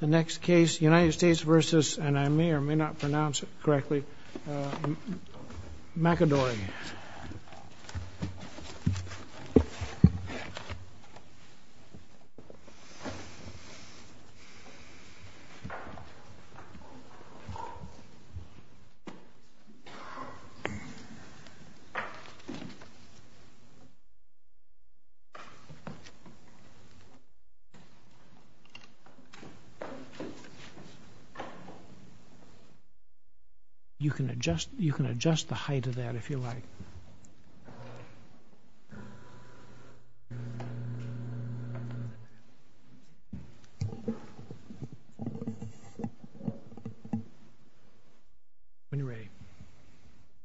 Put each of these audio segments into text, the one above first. The next case, United States v.—and I may or may not pronounce it correctly—McAdory.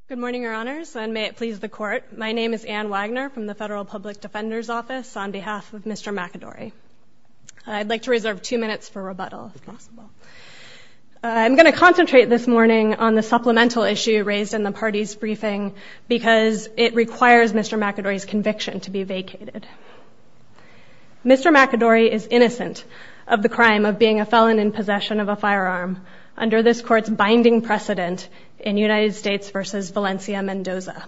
Good morning, Your Honors, and may it please the Court. My name is Anne Wagner from the Federal Public Defender's Office on behalf of Mr. McAdory. I'd like to reserve two minutes for rebuttal, if possible. I'm going to concentrate this morning on the supplemental issue raised in the party's briefing because it requires Mr. McAdory's conviction to be vacated. Mr. McAdory is innocent of the crime of being a felon in possession of a firearm under this Court's binding precedent in United States v. Valencia-Mendoza.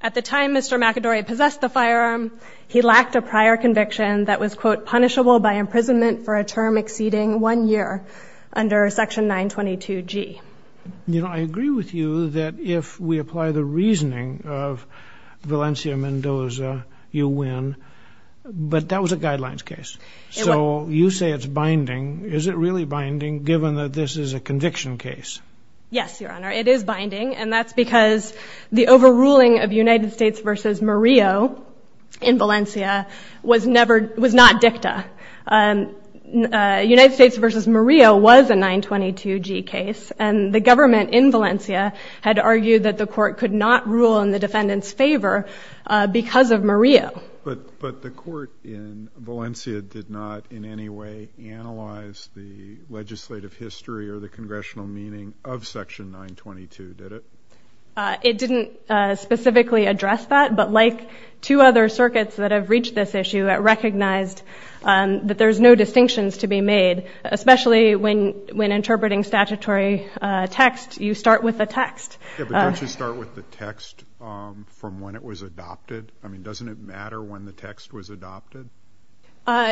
At the time Mr. McAdory possessed the firearm, he lacked a prior conviction that was punishable by imprisonment for a term exceeding one year under Section 922G. You know, I agree with you that if we apply the reasoning of Valencia-Mendoza, you win, but that was a guidelines case, so you say it's binding. Is it really binding, given that this is a conviction case? Yes, Your Honor, it is binding, and that's because the overruling of United States v. Murillo in Valencia was never — was not dicta. United States v. Murillo was a 922G case, and the government in Valencia had argued that the Court could not rule in the defendant's favor because of Murillo. But the Court in Valencia did not in any way analyze the legislative history or the history of Section 922, did it? It didn't specifically address that, but like two other circuits that have reached this issue, it recognized that there's no distinctions to be made, especially when interpreting statutory text, you start with the text. Yeah, but don't you start with the text from when it was adopted? I mean, doesn't it matter when the text was adopted?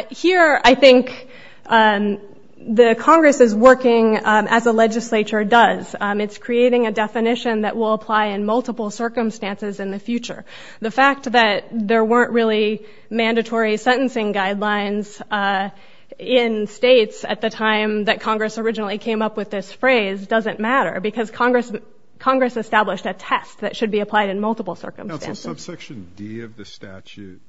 Here, I think the Congress is working as a legislature does. It's creating a definition that will apply in multiple circumstances in the future. The fact that there weren't really mandatory sentencing guidelines in states at the time that Congress originally came up with this phrase doesn't matter because Congress established a test that should be applied in multiple circumstances. Counsel, subsection D of the statute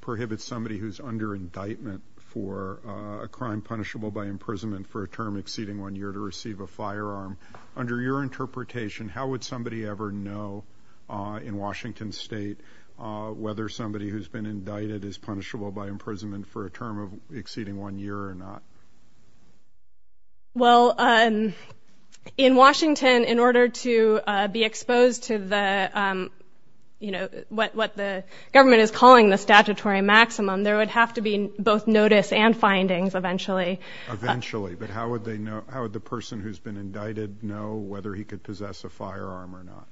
prohibits somebody who's under indictment for a crime punishable by imprisonment for a term exceeding one year to receive a firearm. Under your interpretation, how would somebody ever know in Washington State whether somebody who's been indicted is punishable by imprisonment for a term exceeding one year or not? Well, in Washington, in order to be exposed to what the government is calling the statutory maximum, there would have to be both notice and findings eventually. Eventually, but how would the person who's been indicted know whether he could possess a firearm or not?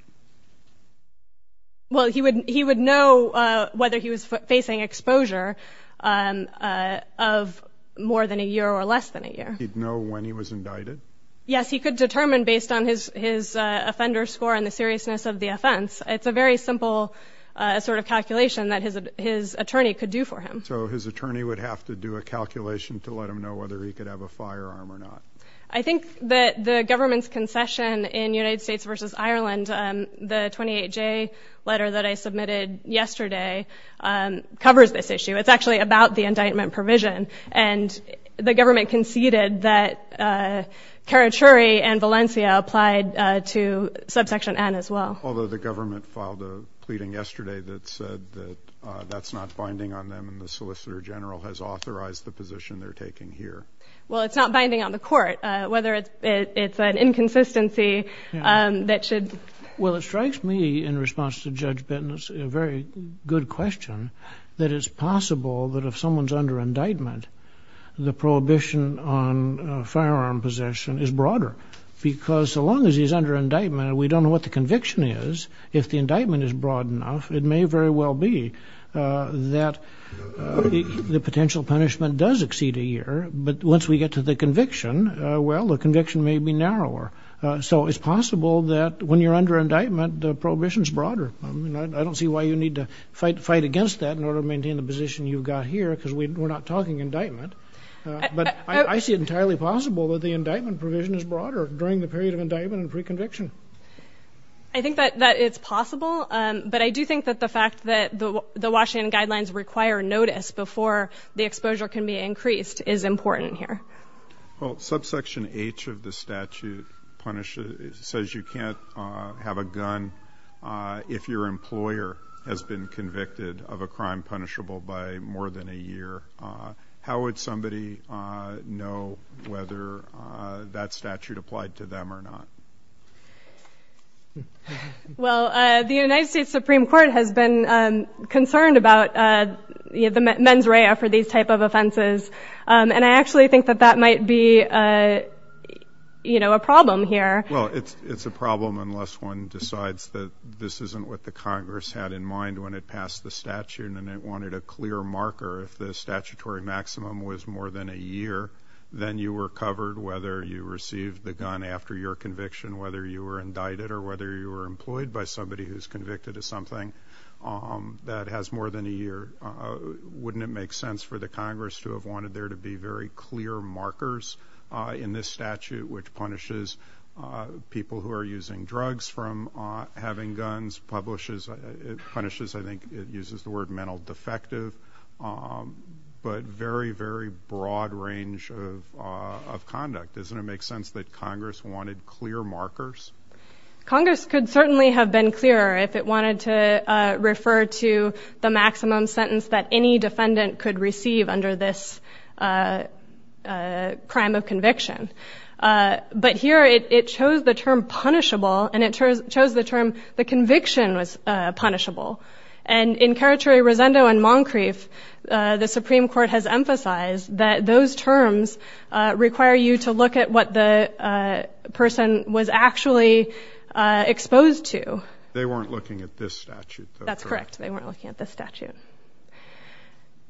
Well, he would know whether he was facing exposure of more than a year or less than a year. He'd know when he was indicted? Yes, he could determine based on his offender score and the seriousness of the offense. It's a very simple sort of calculation that his attorney could do for him. So his attorney would have to do a calculation to let him know whether he could have a firearm or not? I think that the government's concession in United States v. Ireland, the 28J letter that I submitted yesterday covers this issue. It's actually about the indictment provision. And the government conceded that Carachuri and Valencia applied to subsection N as well. Although the government filed a pleading yesterday that said that that's not binding on them and the solicitor general has authorized the position they're taking here. Well, it's not binding on the court, whether it's an inconsistency that should... Well, it strikes me in response to Judge Bittner's very good question that it's possible that if someone's under indictment, the prohibition on firearm possession is broader. Because so long as he's under indictment, we don't know what the conviction is. If the indictment is broad enough, it may very well be that the potential punishment does exceed a year, but once we get to the conviction, well, the conviction may be narrower. So it's possible that when you're under indictment, the prohibition is broader. I don't see why you need to fight against that in order to maintain the position you've got here, because we're not talking indictment. But I see it entirely possible that the indictment provision is broader during the period of indictment and pre-conviction. I think that it's possible, but I do think that the fact that the Washington guidelines require notice before the exposure can be increased is important here. Well, subsection H of the statute says you can't have a gun if your employer has been convicted of a crime punishable by more than a year. How would somebody know whether that statute applied to them or not? Well, the United States Supreme Court has been concerned about the mens rea for these type of offenses, and I actually think that that might be a problem here. Well, it's a problem unless one decides that this isn't what the Congress had in mind when it passed the statute and it wanted a clear marker if the statutory maximum was more than a year, then you were covered whether you received the gun after your conviction, whether you were indicted, or whether you were employed by somebody who's convicted of something that has more than a year. Wouldn't it make sense for the Congress to have wanted there to be very clear markers in this statute which punishes people who are using drugs from having guns, punishes, I think it uses the word, but very, very broad range of conduct? Doesn't it make sense that Congress wanted clear markers? Congress could certainly have been clearer if it wanted to refer to the maximum sentence that any defendant could receive under this crime of conviction. But here it chose the term punishable, and it chose the term the conviction was punishable. And in Keratory, Rosendo, and Moncrief, the Supreme Court has emphasized that those terms require you to look at what the person was actually exposed to. They weren't looking at this statute. That's correct. They weren't looking at this statute.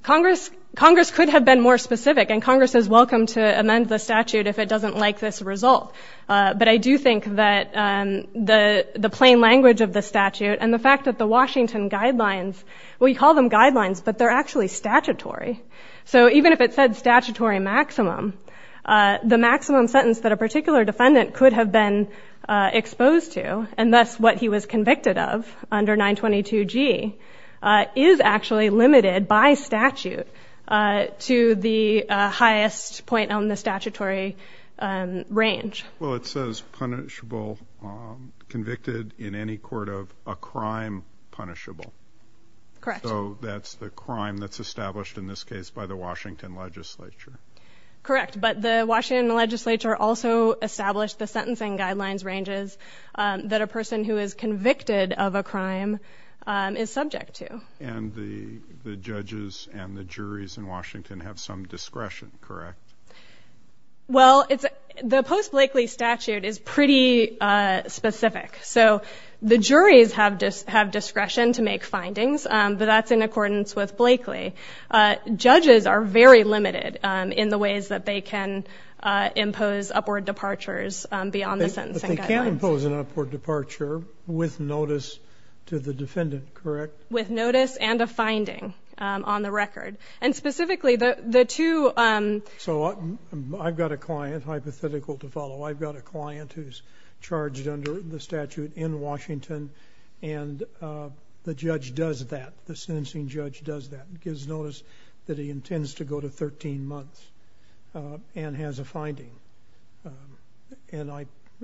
Congress could have been more specific, and Congress is welcome to amend the statute if it doesn't like this result. But I do think that the plain language of the statute and the fact that the Washington guidelines, we call them guidelines, but they're actually statutory. So even if it said statutory maximum, the maximum sentence that a particular defendant could have been exposed to, and thus what he was convicted of under 922G, is actually limited by statute to the highest point on the statutory range. Well, it says punishable convicted in any court of a crime punishable. Correct. So that's the crime that's established in this case by the Washington legislature. Correct, but the Washington legislature also established the sentencing guidelines ranges that a person who is convicted of a crime is subject to. And the judges and the juries in Washington have some discretion, correct? Well, the post-Blakely statute is pretty specific. So the juries have discretion to make findings, but that's in accordance with Blakely. Judges are very limited in the ways that they can impose upward departures beyond the sentencing guidelines. But they can impose an upward departure with notice to the defendant, correct? With notice and a finding on the record. And specifically, the two- So I've got a client, hypothetical to follow, I've got a client who's charged under the statute in Washington, and the judge does that, the sentencing judge does that, gives notice that he intends to go to 13 months and has a finding. And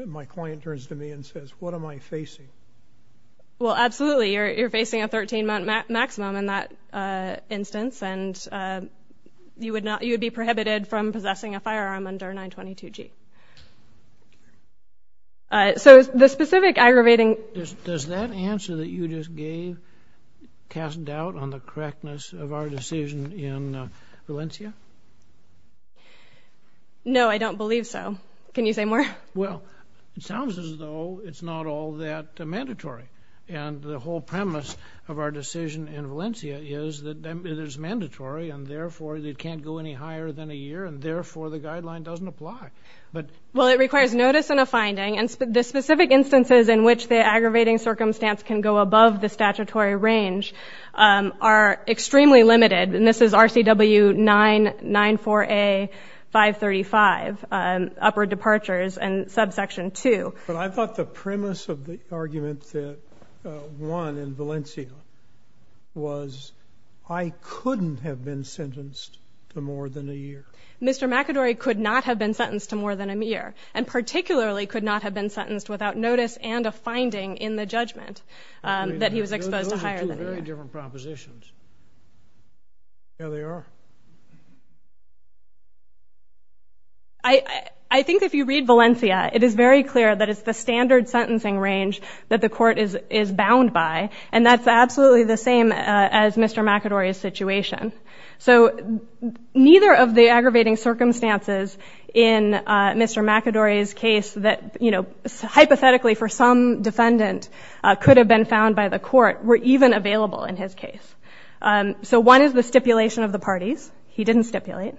my client turns to me and says, what am I facing? Well, absolutely, you're facing a 13-month maximum in that instance, and you would be prohibited from possessing a firearm under 922G. So the specific aggravating- Does that answer that you just gave cast doubt on the correctness of our decision in Valencia? No, I don't believe so. Can you say more? Well, it sounds as though it's not all that mandatory. And the whole premise of our decision in Valencia is that it is mandatory, and therefore it can't go any higher than a year, and therefore the guideline doesn't apply. Well, it requires notice and a finding, and the specific instances in which the aggravating circumstance can go above the statutory range are extremely limited. And this is RCW 994A-535, upper departures and subsection 2. But I thought the premise of the argument that won in Valencia was I couldn't have been sentenced to more than a year. Mr. McAdory could not have been sentenced to more than a year, and particularly could not have been sentenced without notice and a finding in the judgment that he was exposed to higher than a year. Very different propositions. There they are. I think if you read Valencia, it is very clear that it's the standard sentencing range that the court is bound by, and that's absolutely the same as Mr. McAdory's situation. So neither of the aggravating circumstances in Mr. McAdory's case that, you know, So one is the stipulation of the parties. He didn't stipulate.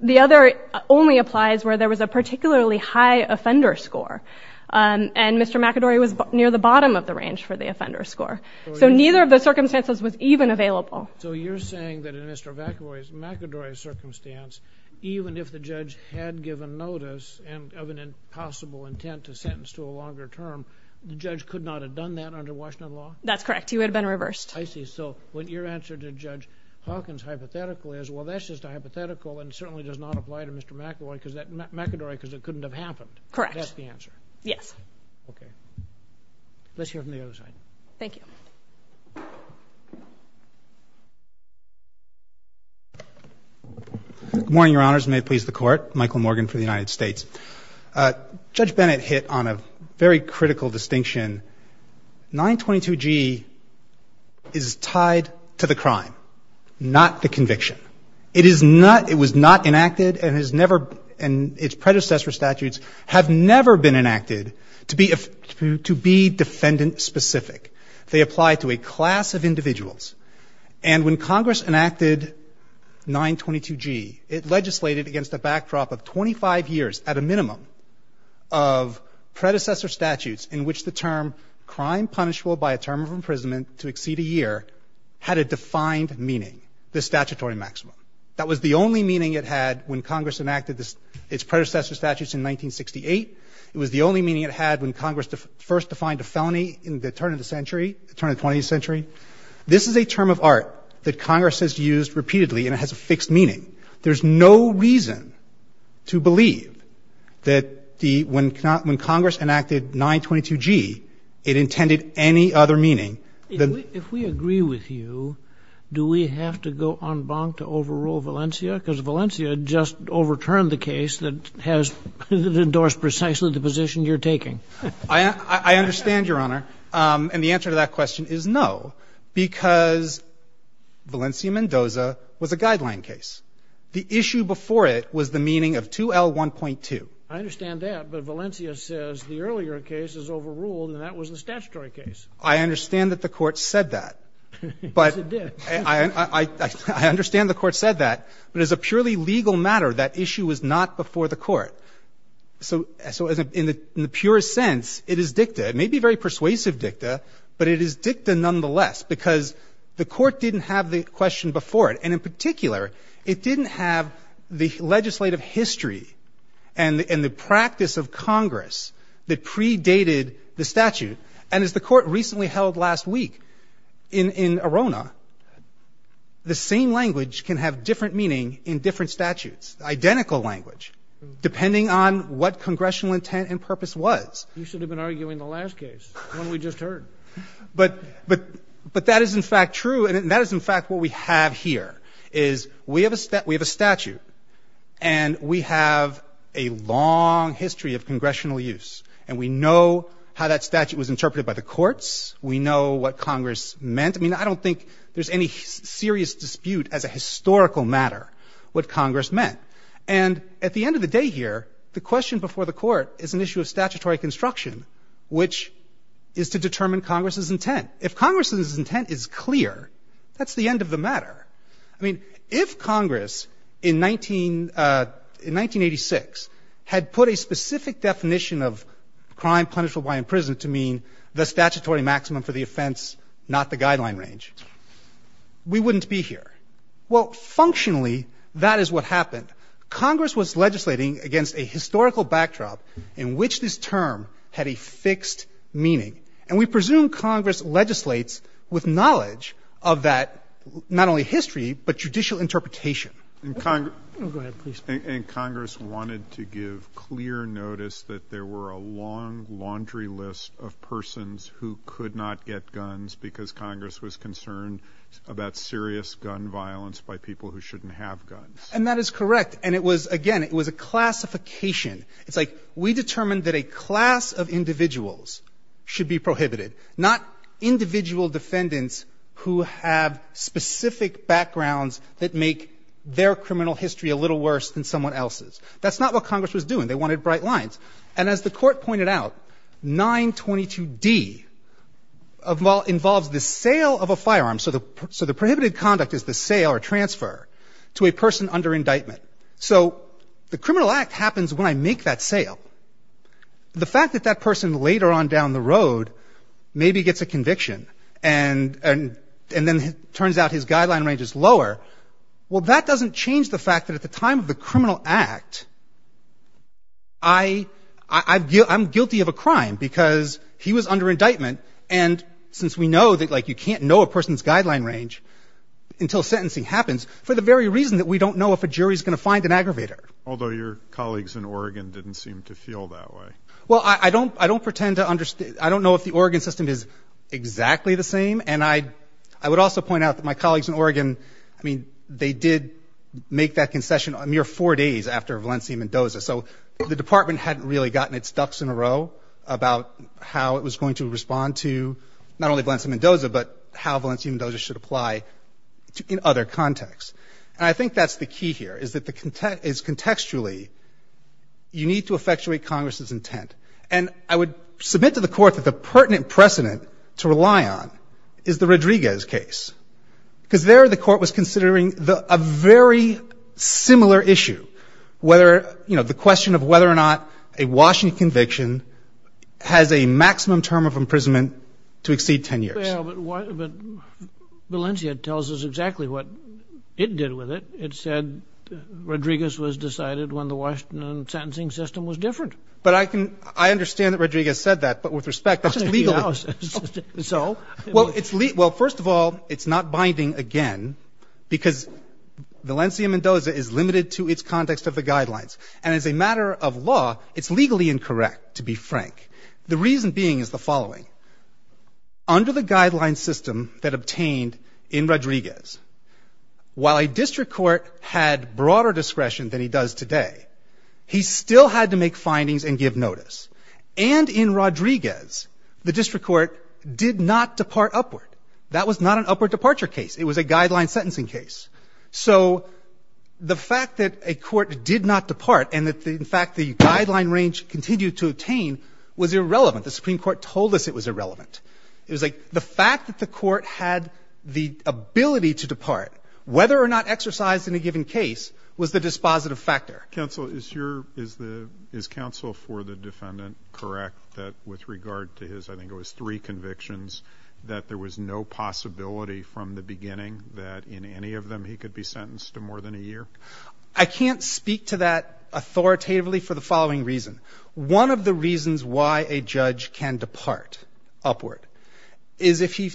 The other only applies where there was a particularly high offender score, and Mr. McAdory was near the bottom of the range for the offender score. So neither of the circumstances was even available. So you're saying that in Mr. McAdory's circumstance, even if the judge had given notice of an impossible intent to sentence to a longer term, the judge could not have done that under Washington law? That's correct. He would have been reversed. I see. So your answer to Judge Hawkins' hypothetical is, well, that's just a hypothetical and certainly does not apply to Mr. McAdory because it couldn't have happened. Correct. That's the answer. Yes. Okay. Let's hear from the other side. Thank you. Good morning, Your Honors. May it please the Court. Michael Morgan for the United States. Judge Bennett hit on a very critical distinction. 922G is tied to the crime, not the conviction. It is not — it was not enacted and has never — and its predecessor statutes have never been enacted to be defendant-specific. They apply to a class of individuals. And when Congress enacted 922G, it legislated against a backdrop of 25 years at a minimum of predecessor statutes in which the term crime punishable by a term of imprisonment to exceed a year had a defined meaning, the statutory maximum. That was the only meaning it had when Congress enacted its predecessor statutes in 1968. It was the only meaning it had when Congress first defined a felony in the turn of the century, the turn of the 20th century. This is a term of art that Congress has used repeatedly and it has a fixed meaning. There's no reason to believe that the — when Congress enacted 922G, it intended any other meaning than — If we agree with you, do we have to go en banc to overrule Valencia? Because Valencia just overturned the case that has endorsed precisely the position you're taking. I understand, Your Honor. And the answer to that question is no, because Valencia-Mendoza was a guideline case. The issue before it was the meaning of 2L1.2. I understand that, but Valencia says the earlier case is overruled and that was the statutory case. I understand that the Court said that. Yes, it did. I understand the Court said that, but as a purely legal matter, that issue was not before the Court. So in the purest sense, it is dicta. It may be very persuasive dicta, but it is dicta nonetheless because the Court didn't have the question before it. And in particular, it didn't have the legislative history and the practice of Congress that predated the statute. And as the Court recently held last week in Arona, the same language can have different meaning in different statutes, identical language, depending on what congressional intent and purpose was. You should have been arguing the last case, the one we just heard. But that is in fact true, and that is in fact what we have here, is we have a statute and we have a long history of congressional use. And we know how that statute was interpreted by the courts. We know what Congress meant. I mean, I don't think there's any serious dispute as a historical matter what Congress meant. And at the end of the day here, the question before the Court is an issue of statutory construction, which is to determine Congress's intent. If Congress's intent is clear, that's the end of the matter. I mean, if Congress in 1986 had put a specific definition of crime punishable by imprisonment to mean the statutory maximum for the offense, not the guideline range, we wouldn't be here. Well, functionally, that is what happened. Congress was legislating against a historical backdrop in which this term had a fixed meaning. And we presume Congress legislates with knowledge of that not only history, but judicial interpretation. Go ahead, please. And Congress wanted to give clear notice that there were a long laundry list of persons who could not get guns because Congress was concerned about serious gun violence by people who shouldn't have guns. And that is correct. And it was, again, it was a classification. It's like we determined that a class of individuals should be prohibited, not individual defendants who have specific backgrounds that make their criminal history a little worse than someone else's. That's not what Congress was doing. They wanted bright lines. And as the Court pointed out, 922d involves the sale of a firearm. So the prohibited conduct is the sale or transfer to a person under indictment. So the criminal act happens when I make that sale. The fact that that person later on down the road maybe gets a conviction and then it turns out his guideline range is lower, well, that doesn't change the fact that at the time of the criminal act, I'm guilty of a crime because he was under indictment. And since we know that like you can't know a person's guideline range until sentencing happens for the very reason that we don't know if a jury is going to find an aggravator. Although your colleagues in Oregon didn't seem to feel that way. Well, I don't pretend to understand. I don't know if the Oregon system is exactly the same. And I would also point out that my colleagues in Oregon, I mean, they did make that concession a mere four days after Valencia Mendoza. So the department hadn't really gotten its ducks in a row about how it was going to respond to not only Valencia Mendoza, but how Valencia Mendoza should apply in other contexts. And I think that's the key here, is that contextually you need to effectuate Congress's intent. And I would submit to the Court that the pertinent precedent to rely on is the Rodriguez case, because there the Court was considering a very similar issue, whether, you know, the question of whether or not a Washington conviction has a maximum term of imprisonment to exceed 10 years. Well, but Valencia tells us exactly what it did with it. It said Rodriguez was decided when the Washington sentencing system was different. But I can — I understand that Rodriguez said that, but with respect, that's legal. So? Well, first of all, it's not binding again, because Valencia Mendoza is limited to its context of the guidelines. And as a matter of law, it's legally incorrect, to be frank, the reason being is the following. Under the guideline system that obtained in Rodriguez, while a district court had broader discretion than he does today, he still had to make findings and give notice. And in Rodriguez, the district court did not depart upward. That was not an upward departure case. It was a guideline sentencing case. So the fact that a court did not depart and that, in fact, the guideline range continued to attain was irrelevant. The Supreme Court told us it was irrelevant. It was like the fact that the court had the ability to depart, whether or not exercised in a given case, was the dispositive factor. Counsel, is your — is counsel for the defendant correct that with regard to his — I think it was three convictions — that there was no possibility from the beginning that in any of them he could be sentenced to more than a year? I can't speak to that authoritatively for the following reason. One of the reasons why a judge can depart upward is if he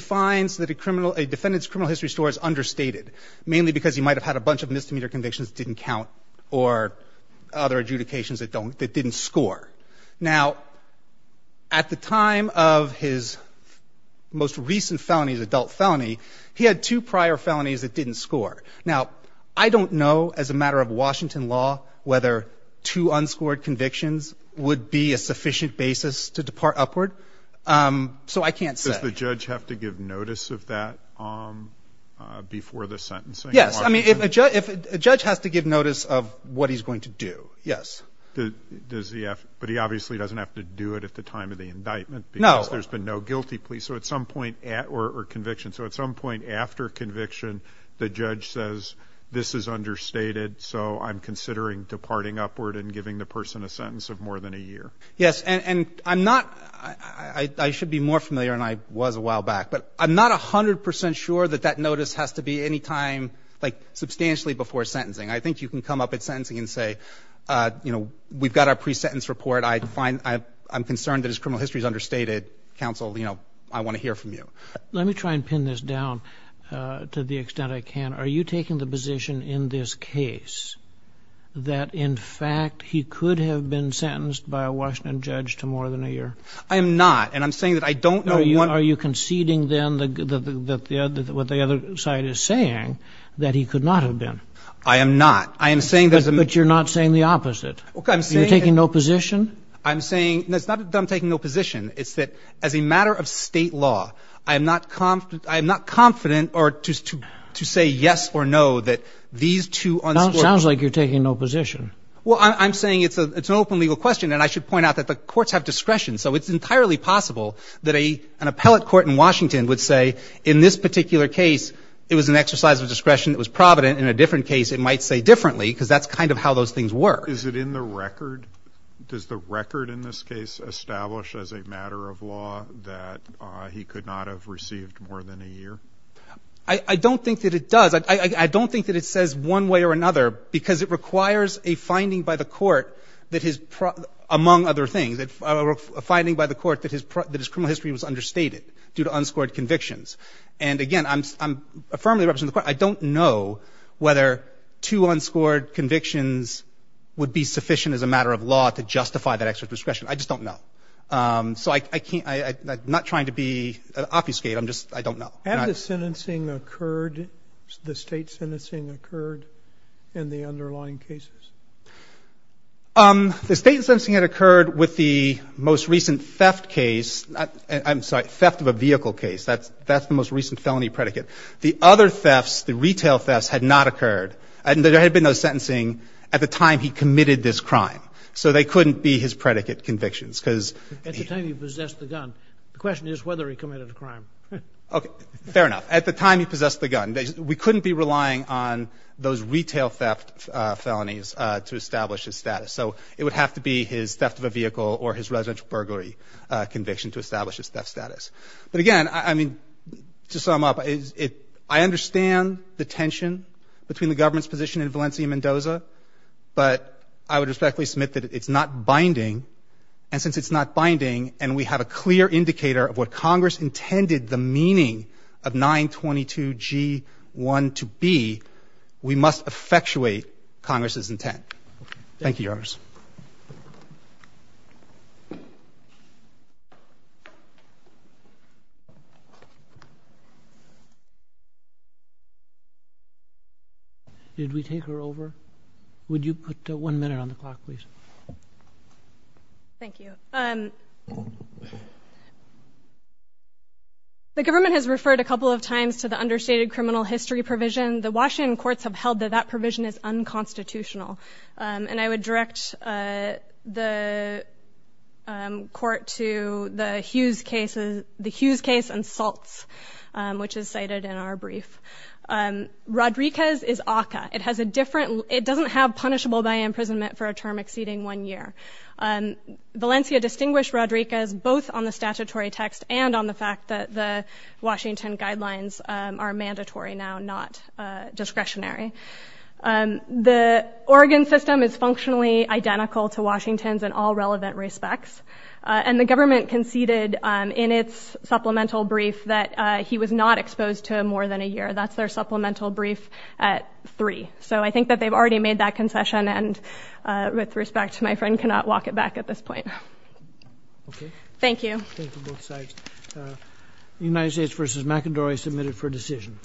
finds that a defendant's criminal history story is understated, mainly because he might have had a bunch of misdemeanor convictions that didn't count or other adjudications that didn't score. Now, at the time of his most recent felony, his adult felony, he had two prior felonies that didn't score. Now, I don't know, as a matter of Washington law, whether two unscored convictions would be a sufficient basis to depart upward, so I can't say. Does the judge have to give notice of that before the sentencing? Yes. I mean, a judge has to give notice of what he's going to do. Yes. But he obviously doesn't have to do it at the time of the indictment. No. Because there's been no guilty plea, or conviction. So at some point after conviction, the judge says, this is understated, so I'm considering departing upward and giving the person a sentence of more than a year. Yes. And I'm not — I should be more familiar, and I was a while back, but I'm not 100 percent sure that that notice has to be any time, like, substantially before sentencing. I think you can come up at sentencing and say, you know, we've got our pre-sentence report. I find — I'm concerned that his criminal history is understated. Counsel, you know, I want to hear from you. Let me try and pin this down to the extent I can. Are you taking the position in this case that, in fact, he could have been sentenced by a Washington judge to more than a year? I am not. And I'm saying that I don't know — Are you conceding, then, what the other side is saying, that he could not have been? I am not. I am saying that — But you're not saying the opposite. Okay. I'm saying — You're taking no position? I'm saying — no, it's not that I'm taking no position. It's that, as a matter of state law, I am not confident or — to say yes or no that these two — It sounds like you're taking no position. Well, I'm saying it's an open legal question, and I should point out that the courts have discretion. So it's entirely possible that an appellate court in Washington would say, in this particular an exercise of discretion that was provident. In a different case, it might say differently, because that's kind of how those things work. Is it in the record? Does the record in this case establish, as a matter of law, that he could not have received more than a year? I don't think that it does. I don't think that it says one way or another, because it requires a finding by the court that his — among other things, a finding by the court that his criminal history was understated due to unscored convictions. And, again, I'm — I firmly represent the court. I don't know whether two unscored convictions would be sufficient, as a matter of law, to justify that exercise of discretion. I just don't know. So I can't — I'm not trying to be obfuscate. I'm just — I don't know. Had the sentencing occurred — the state sentencing occurred in the underlying cases? The state sentencing had occurred with the most recent theft case — I'm sorry, theft of a vehicle case. That's the most recent felony predicate. The other thefts, the retail thefts, had not occurred. And there had been no sentencing at the time he committed this crime. So they couldn't be his predicate convictions, because — At the time he possessed the gun. The question is whether he committed a crime. Okay. Fair enough. At the time he possessed the gun. We couldn't be relying on those retail theft felonies to establish his status. So it would have to be his theft of a vehicle or his residential burglary conviction to establish his theft status. But again, I mean, to sum up, I understand the tension between the government's position and Valencia-Mendoza. But I would respectfully submit that it's not binding. And since it's not binding, and we have a clear indicator of what Congress intended the meaning of 922G1 to be, we must effectuate Congress's intent. Thank you, Your Honors. Did we take her over? Would you put one minute on the clock, please? Thank you. The government has referred a couple of times to the understated criminal history provision. The Washington courts have held that that provision is unconstitutional. And I would direct the committee to consider that provision. I would direct the court to the Hughes case and salts, which is cited in our brief. Rodriguez is ACCA. It doesn't have punishable by imprisonment for a term exceeding one year. Valencia distinguished Rodriguez both on the statutory text and on the fact that the Washington guidelines are mandatory now, not discretionary. The Oregon system is functionally identical to Washington's in all relevant respects. And the government conceded in its supplemental brief that he was not exposed to more than a year. That's their supplemental brief at three. So I think that they've already made that concession, and with respect to my friend, cannot walk it back at this point. Okay. Thank you. Thank you, both sides. United States versus McIndory submitted for decision.